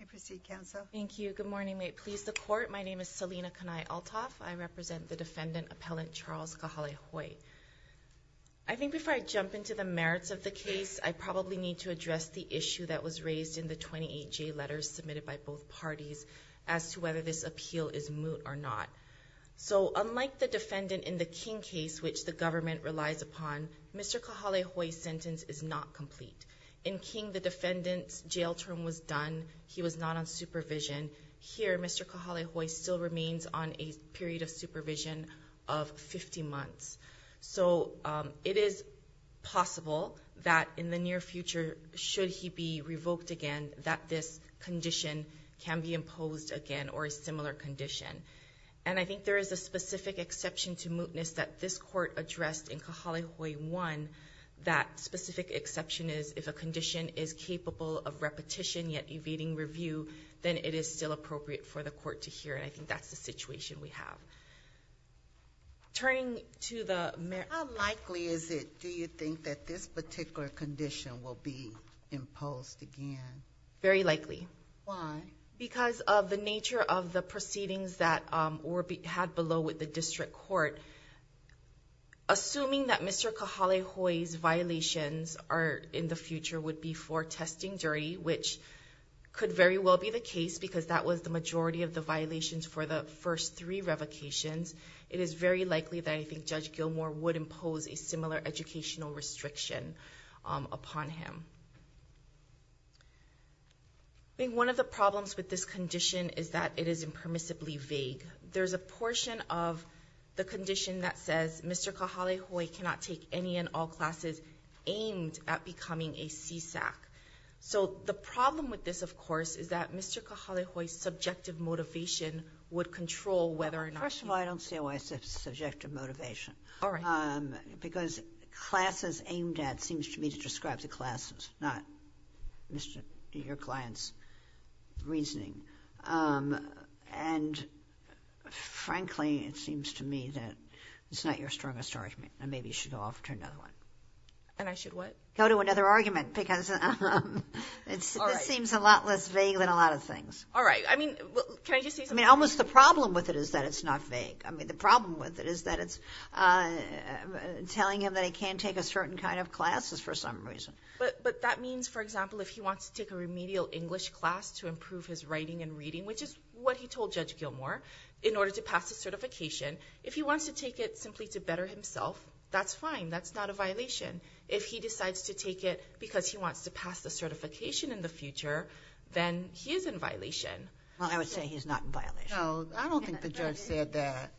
I think before I jump into the merits of the case, I probably need to address the issue that was raised in the 28J letters submitted by both parties as to whether this appeal is moot or not. So unlike the defendant in the King case, which the government relies upon, Mr. Kahalehoe's sentence is not complete. In King, the defendant's jail term was done. He was not on supervision. Here Mr. Kahalehoe still remains on a period of supervision of 50 months. So it is possible that in the near future, should he be revoked again, that this condition can be imposed again or a similar condition. And I think there is a specific exception to mootness that this court addressed in Kahalehoe 1, that specific exception is if a condition is capable of repetition, yet evading review, then it is still appropriate for the court to hear. And I think that's the situation we have. Turning to the merits. How likely is it, do you think, that this particular condition will be imposed again? Very likely. Why? Because of the nature of the proceedings that were had below with the district court. Assuming that Mr. Kahalehoe's violations in the future would be for testing jury, which could very well be the case because that was the majority of the violations for the first three revocations, it is very likely that I think Judge Gilmour would impose a similar educational restriction upon him. One of the problems with this condition is that it is impermissibly vague. There's a portion of the condition that says Mr. Kahalehoe cannot take any and all classes aimed at becoming a CSAC. So the problem with this, of course, is that Mr. Kahalehoe's subjective motivation would control whether or not he would take any and all classes aimed at becoming a CSAC. First of all, I don't see why it's a subjective motivation. Because classes aimed at seems to me to describe the classes, not your client's reasoning. And, frankly, it seems to me that it's not your strongest argument and maybe you should go off to another one. And I should what? Go to another argument because it seems a lot less vague than a lot of things. All right. I mean, can I just say something? I mean, almost the problem with it is that it's not vague. I mean, the problem with it is that it's telling him that he can't take a certain kind of classes for some reason. But that means, for example, if he wants to take a remedial English class to improve his writing and reading, which is what he told Judge Gilmour, in order to pass the certification, if he wants to take it simply to better himself, that's fine. That's not a violation. If he decides to take it because he wants to pass the certification in the future, then he is in violation. Well, I would say he's not in violation. No, I don't think the judge said that.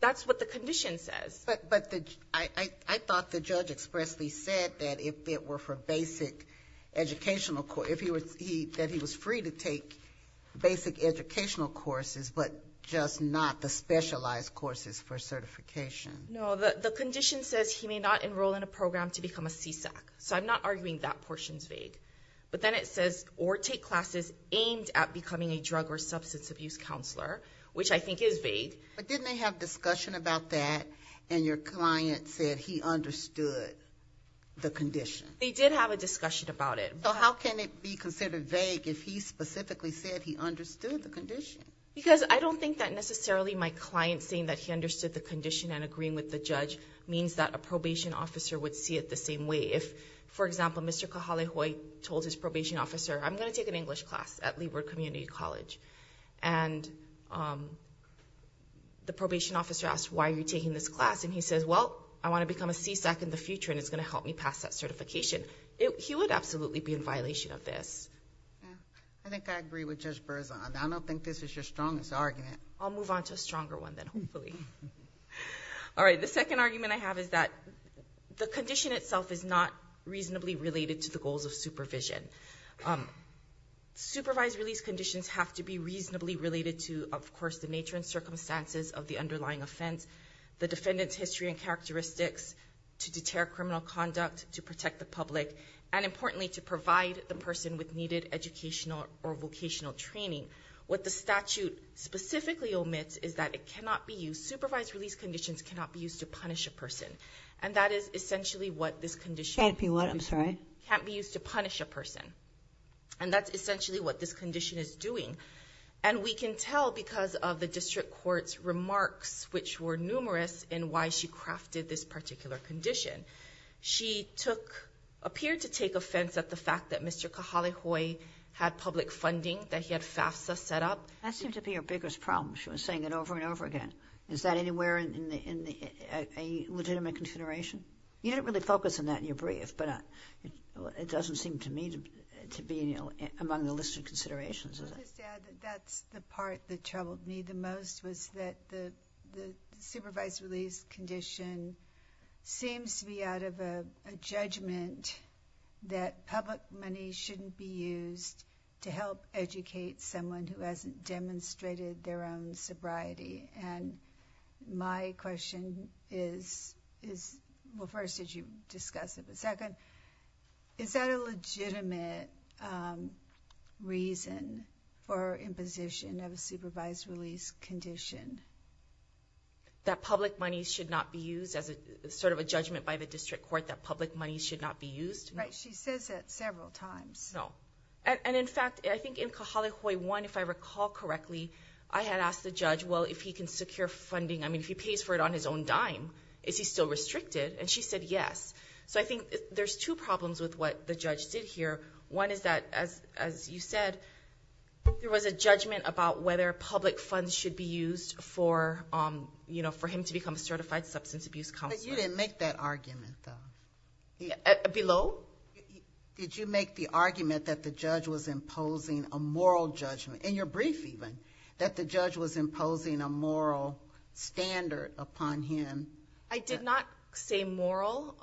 That's what the condition says. But I thought the judge expressly said that if it were for basic educational, that he was free to take basic educational courses, but just not the specialized courses for certification. No, the condition says he may not enroll in a program to become a CSAC. So I'm not arguing that portion's vague. But then it says, or take classes aimed at becoming a drug or substance abuse counselor, which I think is vague. But didn't they have discussion about that, and your client said he understood the condition? They did have a discussion about it. So how can it be considered vague if he specifically said he understood the condition? Because I don't think that necessarily my client saying that he understood the condition and agreeing with the judge means that a probation officer would see it the same way. For example, Mr. Kahale-Hoye told his probation officer, I'm going to take an English class at Leeward Community College. And the probation officer asked, why are you taking this class? And he says, well, I want to become a CSAC in the future, and it's going to help me pass that certification. He would absolutely be in violation of this. I think I agree with Judge Berzon. I don't think this is your strongest argument. I'll move on to a stronger one then, hopefully. All right, the second argument I have is that the condition itself is not reasonably related to the goals of supervision. Supervised release conditions have to be reasonably related to, of course, the nature and circumstances of the underlying offense, the defendant's history and characteristics to deter criminal conduct, to protect the public, and importantly, to provide the person with needed educational or vocational training. What the statute specifically omits is that it cannot be used, supervised release conditions cannot be used to punish a person. And that is essentially what this condition- Can't be what, I'm sorry? Can't be used to punish a person. And that's essentially what this condition is doing. And we can tell because of the district court's remarks, which were numerous in why she crafted this particular condition. She took, appeared to take offense at the fact that Mr. Kahale-Hoye had public funding that he had FAFSA set up. That seemed to be her biggest problem. She was saying it over and over again. Is that anywhere in a legitimate consideration? You didn't really focus on that in your brief, but it doesn't seem to me to be among the listed considerations. I'll just add that that's the part that troubled me the most, was that the supervised release condition seems to be out of a judgment that public money shouldn't be used to help educate someone who hasn't demonstrated their own sobriety. And my question is, well, first, did you discuss it, but second, is that a legitimate reason for imposition of a supervised release condition? That public money should not be used as a sort of a judgment by the district court that public money should not be used? Right. She says it several times. No. And in fact, I think in Kahale-Hoye 1, if I recall correctly, I had asked the judge, well, if he can secure funding, I mean, if he pays for it on his own dime, is he still restricted? And she said yes. So I think there's two problems with what the judge did here. One is that, as you said, there was a judgment about whether public funds should be used for him to become a certified substance abuse counselor. But you didn't make that argument, though. Below? Did you make the argument that the judge was imposing a moral judgment, in your brief even, that the judge was imposing a moral standard upon him? I did not say moral,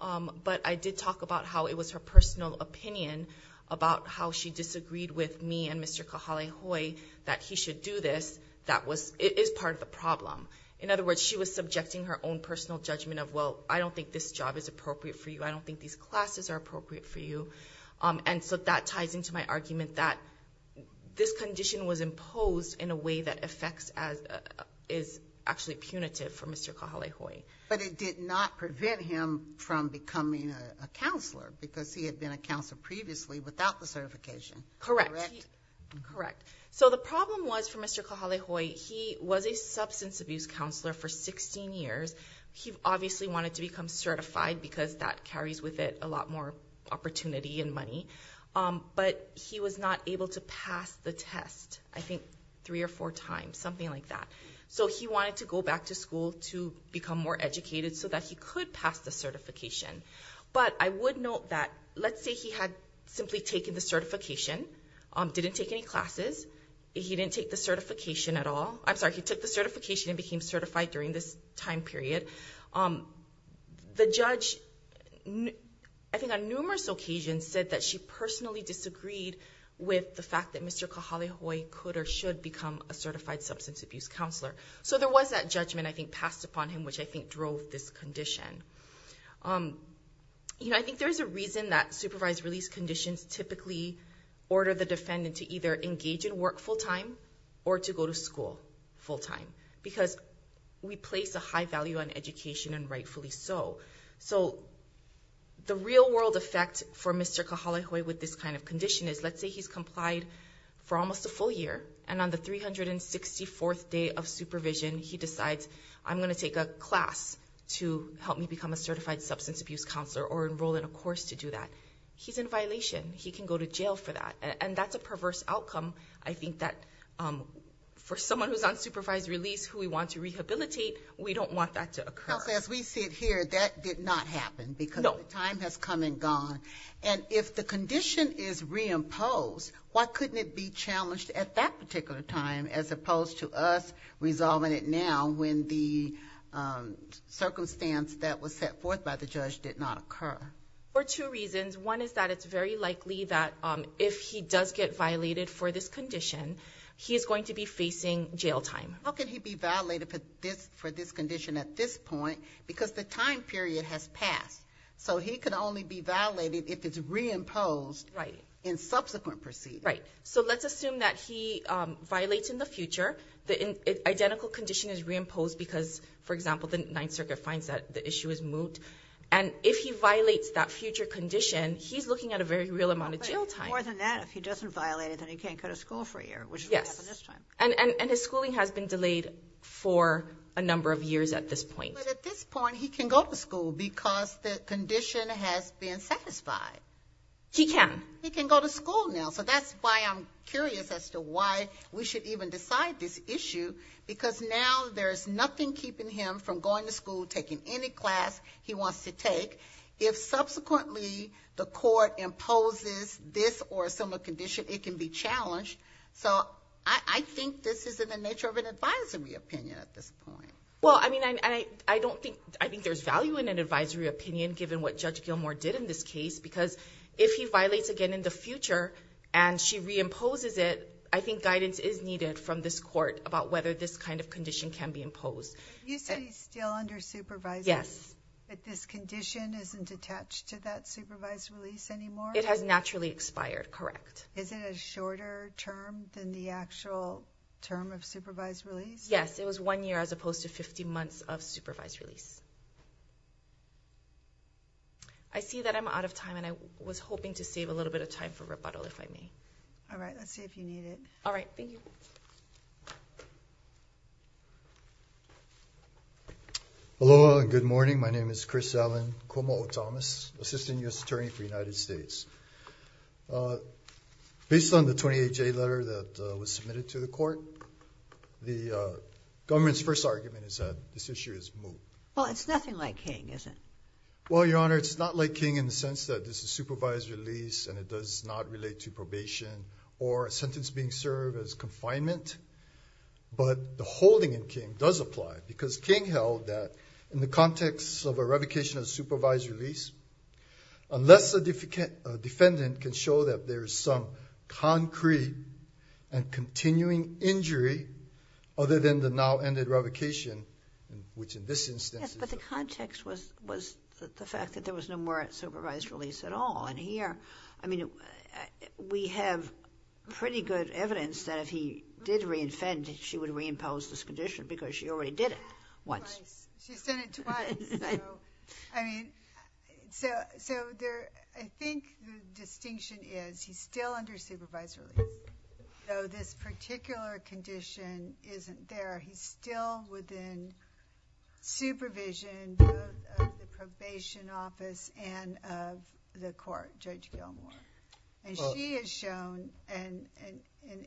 but I did talk about how it was her personal opinion about how she disagreed with me and Mr. Kahale-Hoye that he should do this. That was, it is part of the problem. In other words, she was subjecting her own personal judgment of, well, I don't think this job is appropriate for you. I don't think these classes are appropriate for you. And so that ties into my argument that this condition was imposed in a way that is actually punitive for Mr. Kahale-Hoye. But it did not prevent him from becoming a counselor, because he had been a counselor previously without the certification. Correct. Correct. So the problem was for Mr. Kahale-Hoye, he was a substance abuse counselor for 16 years. He obviously wanted to become certified, because that carries with it a lot more opportunity and money. But he was not able to pass the test, I think, three or four times, something like that. So he wanted to go back to school to become more educated so that he could pass the certification. But I would note that, let's say he had simply taken the certification, didn't take any classes, he didn't take the certification at all. I'm sorry, he took the certification and became certified during this time period. The judge, I think on numerous occasions, said that she personally disagreed with the So there was that judgment, I think, passed upon him, which I think drove this condition. I think there is a reason that supervised release conditions typically order the defendant to either engage in work full-time or to go to school full-time, because we place a high value on education and rightfully so. So the real world effect for Mr. Kahale-Hoye with this kind of condition is, let's say he's complied for almost a full year, and on the 364th day of supervision, he decides, I'm going to take a class to help me become a certified substance abuse counselor or enroll in a course to do that. He's in violation. He can go to jail for that. And that's a perverse outcome. I think that for someone who's on supervised release, who we want to rehabilitate, we don't want that to occur. Because as we see it here, that did not happen, because the time has come and gone. And if the condition is reimposed, why couldn't it be challenged at that particular time, as opposed to us resolving it now when the circumstance that was set forth by the judge did not occur? For two reasons. One is that it's very likely that if he does get violated for this condition, he is going to be facing jail time. How can he be violated for this condition at this point? Because the time period has passed. So he can only be violated if it's reimposed in subsequent proceedings. Right. So let's assume that he violates in the future. The identical condition is reimposed because, for example, the Ninth Circuit finds that the issue is moot. And if he violates that future condition, he's looking at a very real amount of jail time. More than that, if he doesn't violate it, then he can't go to school for a year, which is what happened this time. Yes. And his schooling has been delayed for a number of years at this point. But at this point, he can go to school because the condition has been satisfied. He can. He can go to school now. So that's why I'm curious as to why we should even decide this issue. Because now there's nothing keeping him from going to school, taking any class he wants to take. If subsequently the court imposes this or a similar condition, it can be challenged. So I think this is in the nature of an advisory opinion at this point. Well, I mean, I don't think, I think there's value in an advisory opinion given what Judge Gilmour did in this case, because if he violates again in the future and she reimposes it, I think guidance is needed from this court about whether this kind of condition can be imposed. You said he's still under supervision. Yes. But this condition isn't attached to that supervised release anymore? It has naturally expired. Correct. Is it a shorter term than the actual term of supervised release? Yes. It was one year as opposed to 15 months of supervised release. I see that I'm out of time and I was hoping to save a little bit of time for rebuttal if I may. All right. Let's see if you need it. All right. Thank you. Aloha and good morning. My name is Chris Allen Komo'o Thomas, Assistant U.S. Attorney for the United States. Based on the 28-J letter that was submitted to the court, the government's first argument is that this issue is moot. Well, it's nothing like King, is it? Well, Your Honor, it's not like King in the sense that this is supervised release and it does not relate to probation or a sentence being served as confinement. But the holding in King does apply, because King held that in the context of a revocation of supervised release, unless a defendant can show that there is some concrete and continuing injury other than the now-ended revocation, which in this instance is a... Yes, but the context was the fact that there was no more supervised release at all. And here, I mean, we have pretty good evidence that if he did reinfend, she would reimpose this condition because she already did it once. Twice. She said it twice. So, I mean, so there... I think the distinction is he's still under supervised release, though this particular condition isn't there. He's still within supervision of the probation office and of the court, Judge Gilmour. And she has shown an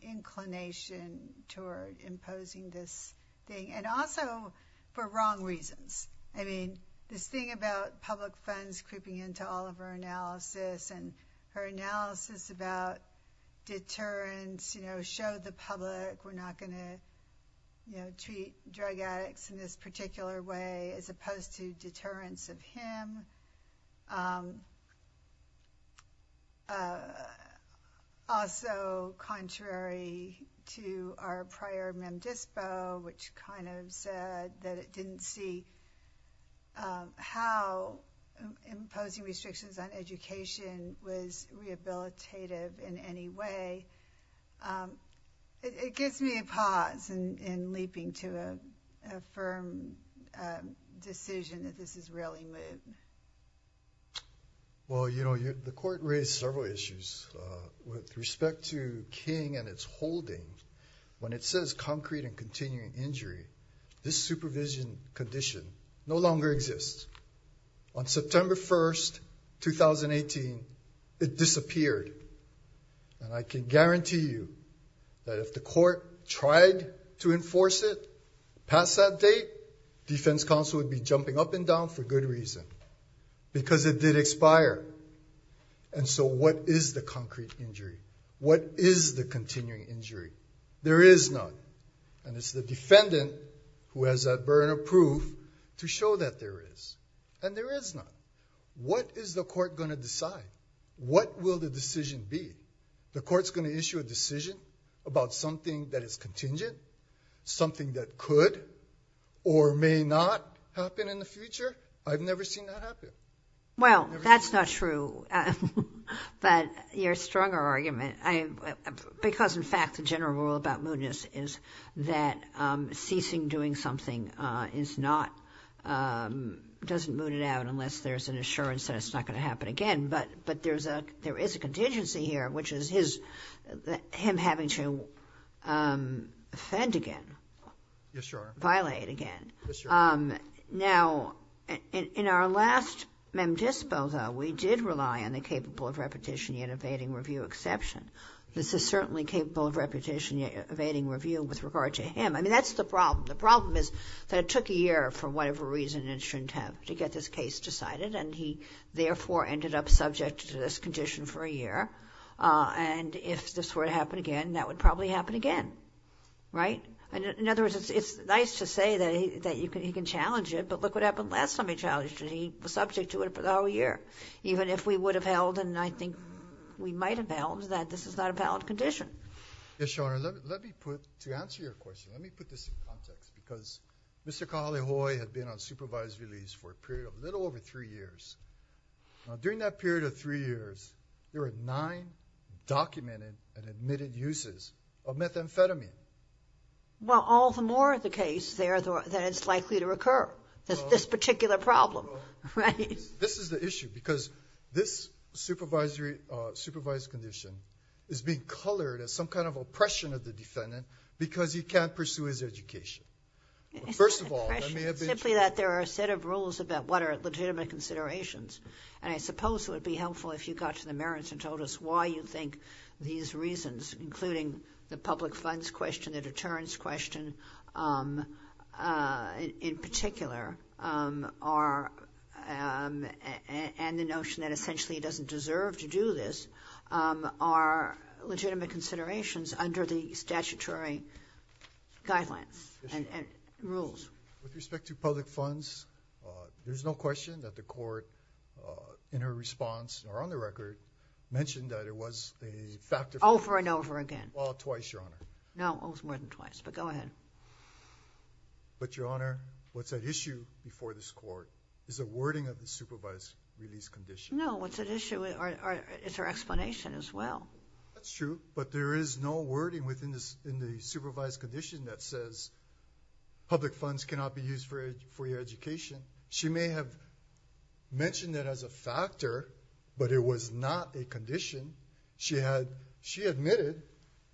inclination toward imposing this thing, and also for wrong reasons. I mean, this thing about public funds creeping into all of her analysis and her analysis about deterrence, you know, show the public we're not going to treat drug addicts in this particular way, as opposed to deterrence of him. Also, contrary to our prior mem dispo, which kind of said that it didn't see how imposing restrictions on education was rehabilitative in any way, it gives me a pause in leaping to a firm decision that this is really moot. Well, you know, the court raised several issues with respect to King and its holding. When it says concrete and continuing injury, this supervision condition no longer exists. On September 1st, 2018, it disappeared, and I can guarantee you that if the court tried to enforce it past that date, defense counsel would be jumping up and down for good reason. Because it did expire. And so what is the concrete injury? What is the continuing injury? There is none. And it's the defendant who has that burn of proof to show that there is. And there is none. What is the court going to decide? What will the decision be? The court's going to issue a decision about something that is contingent, something that could or may not happen in the future. I've never seen that happen. Well, that's not true. But your stronger argument, because in fact, the general rule about mootness is that ceasing doing something is not, doesn't moot it out unless there's an assurance that it's not going to happen again. But there is a contingency here, which is him having to offend again. Yes, Your Honor. Violate again. Yes, Your Honor. Now, in our last mem dispo, though, we did rely on the capable of repetition yet evading review exception. This is certainly capable of repetition yet evading review with regard to him. I mean, that's the problem. The problem is that it took a year for whatever reason it shouldn't have to get this case decided. And he, therefore, ended up subject to this condition for a year. And if this were to happen again, that would probably happen again. Right? In other words, it's nice to say that he can challenge it, but look what happened last time he challenged it. He was subject to it for the whole year. Even if we would have held, and I think we might have held, that this is not a valid condition. Yes, Your Honor. Let me put, to answer your question, let me put this in context. Because Mr. Kahale-Hoye had been on supervised release for a period of a little over three years. Now, during that period of three years, there were nine documented and admitted uses of methamphetamine. Well, all the more the case there that it's likely to recur, this particular problem. Right? This is the issue, because this supervised condition is being colored as some kind of First of all, let me have the... It's not a question. It's simply that there are a set of rules about what are legitimate considerations. And I suppose it would be helpful if you got to the merits and told us why you think these reasons, including the public funds question, the deterrence question, in particular, are, and the notion that essentially he doesn't deserve to do this, are legitimate considerations under the statutory guidelines and rules. With respect to public funds, there's no question that the court, in her response or on the record, mentioned that it was a factor... Over and over again. Well, twice, Your Honor. No, it was more than twice, but go ahead. But, Your Honor, what's at issue before this court is a wording of the supervised release condition. No, what's at issue is her explanation as well. That's true, but there is no wording within the supervised condition that says public funds cannot be used for your education. She may have mentioned that as a factor, but it was not a condition. She admitted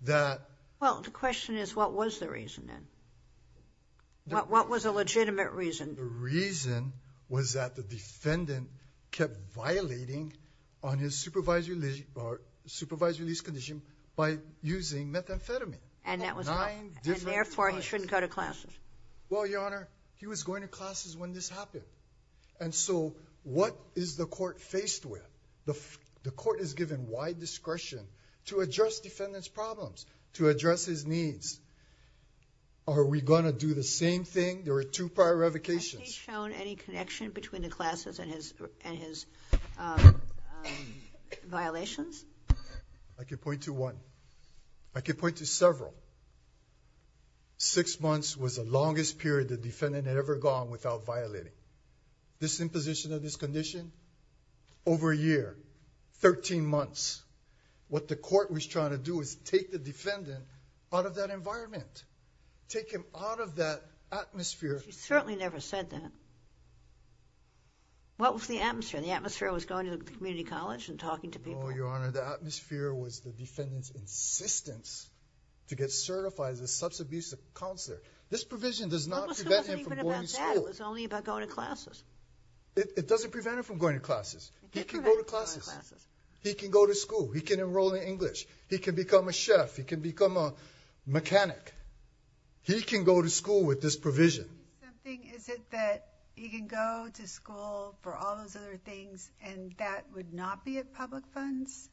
that... Well, the question is, what was the reason then? What was a legitimate reason? The reason was that the defendant kept violating on his supervised release condition by using methamphetamine. And therefore, he shouldn't go to classes. Well, Your Honor, he was going to classes when this happened. And so, what is the court faced with? The court is given wide discretion to address defendant's problems, to address his needs. Are we going to do the same thing? There are two prior revocations. Has he shown any connection between the classes and his violations? I can point to one. I can point to several. Six months was the longest period the defendant had ever gone without violating. This imposition of this condition, over a year, 13 months, what the court was trying to do is take the defendant out of that environment. Take him out of that atmosphere. She certainly never said that. What was the atmosphere? The atmosphere was going to the community college and talking to people. No, Your Honor, the atmosphere was the defendant's insistence to get certified as a substance abuse counselor. This provision does not prevent him from going to school. It wasn't even about that. It was only about going to classes. It doesn't prevent him from going to classes. He can go to classes. He can go to school. He can enroll in English. He can become a chef. He can become a mechanic. He can go to school with this provision. Is it that he can go to school for all those other things and that would not be at public funds?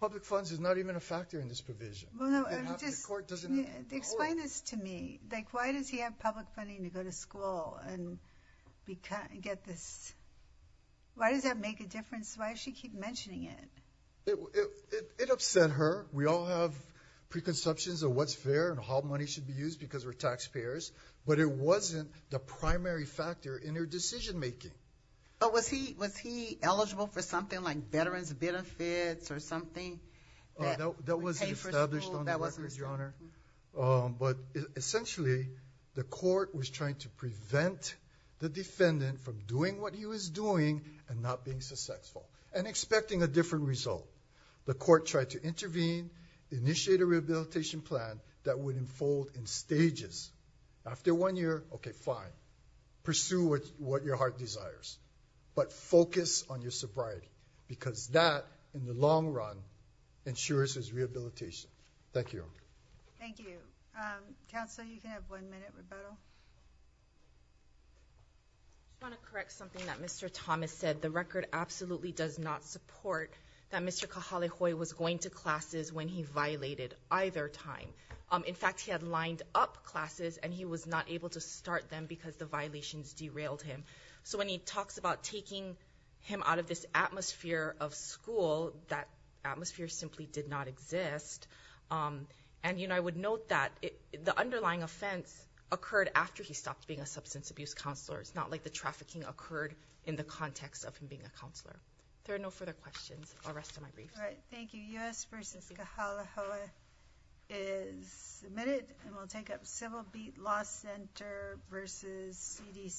Public funds is not even a factor in this provision. Explain this to me. Why does he have public funding to go to school? Why does that make a difference? Why does she keep mentioning it? It upset her. We all have preconceptions of what's fair and how money should be used because we're taxpayers. But it wasn't the primary factor in her decision making. Was he eligible for something like veterans benefits or something? That was established on the record, Your Honor. But essentially, the court was trying to prevent the defendant from doing what he was doing and not being successful and expecting a different result. The court tried to intervene, initiate a rehabilitation plan that would unfold in stages. After one year, okay, fine. Pursue what your heart desires. But focus on your sobriety because that, in the long run, ensures his rehabilitation. Thank you, Your Honor. Thank you. Counsel, you can have one minute rebuttal. I want to correct something that Mr. Thomas said. The record absolutely does not support that Mr. Kahale-Hoi was going to classes when he violated either time. In fact, he had lined up classes, and he was not able to start them because the violations derailed him. So when he talks about taking him out of this atmosphere of school, that atmosphere simply did not exist. And, you know, I would note that the underlying offense occurred after he stopped being a substance abuse counselor. It's not like the trafficking occurred in the context of him being a counselor. If there are no further questions, I'll rest on my briefs. All right. Thank you. U.S. v. Kahale-Hoi is submitted. And we'll take up Civil Beat Law Center v. CDC.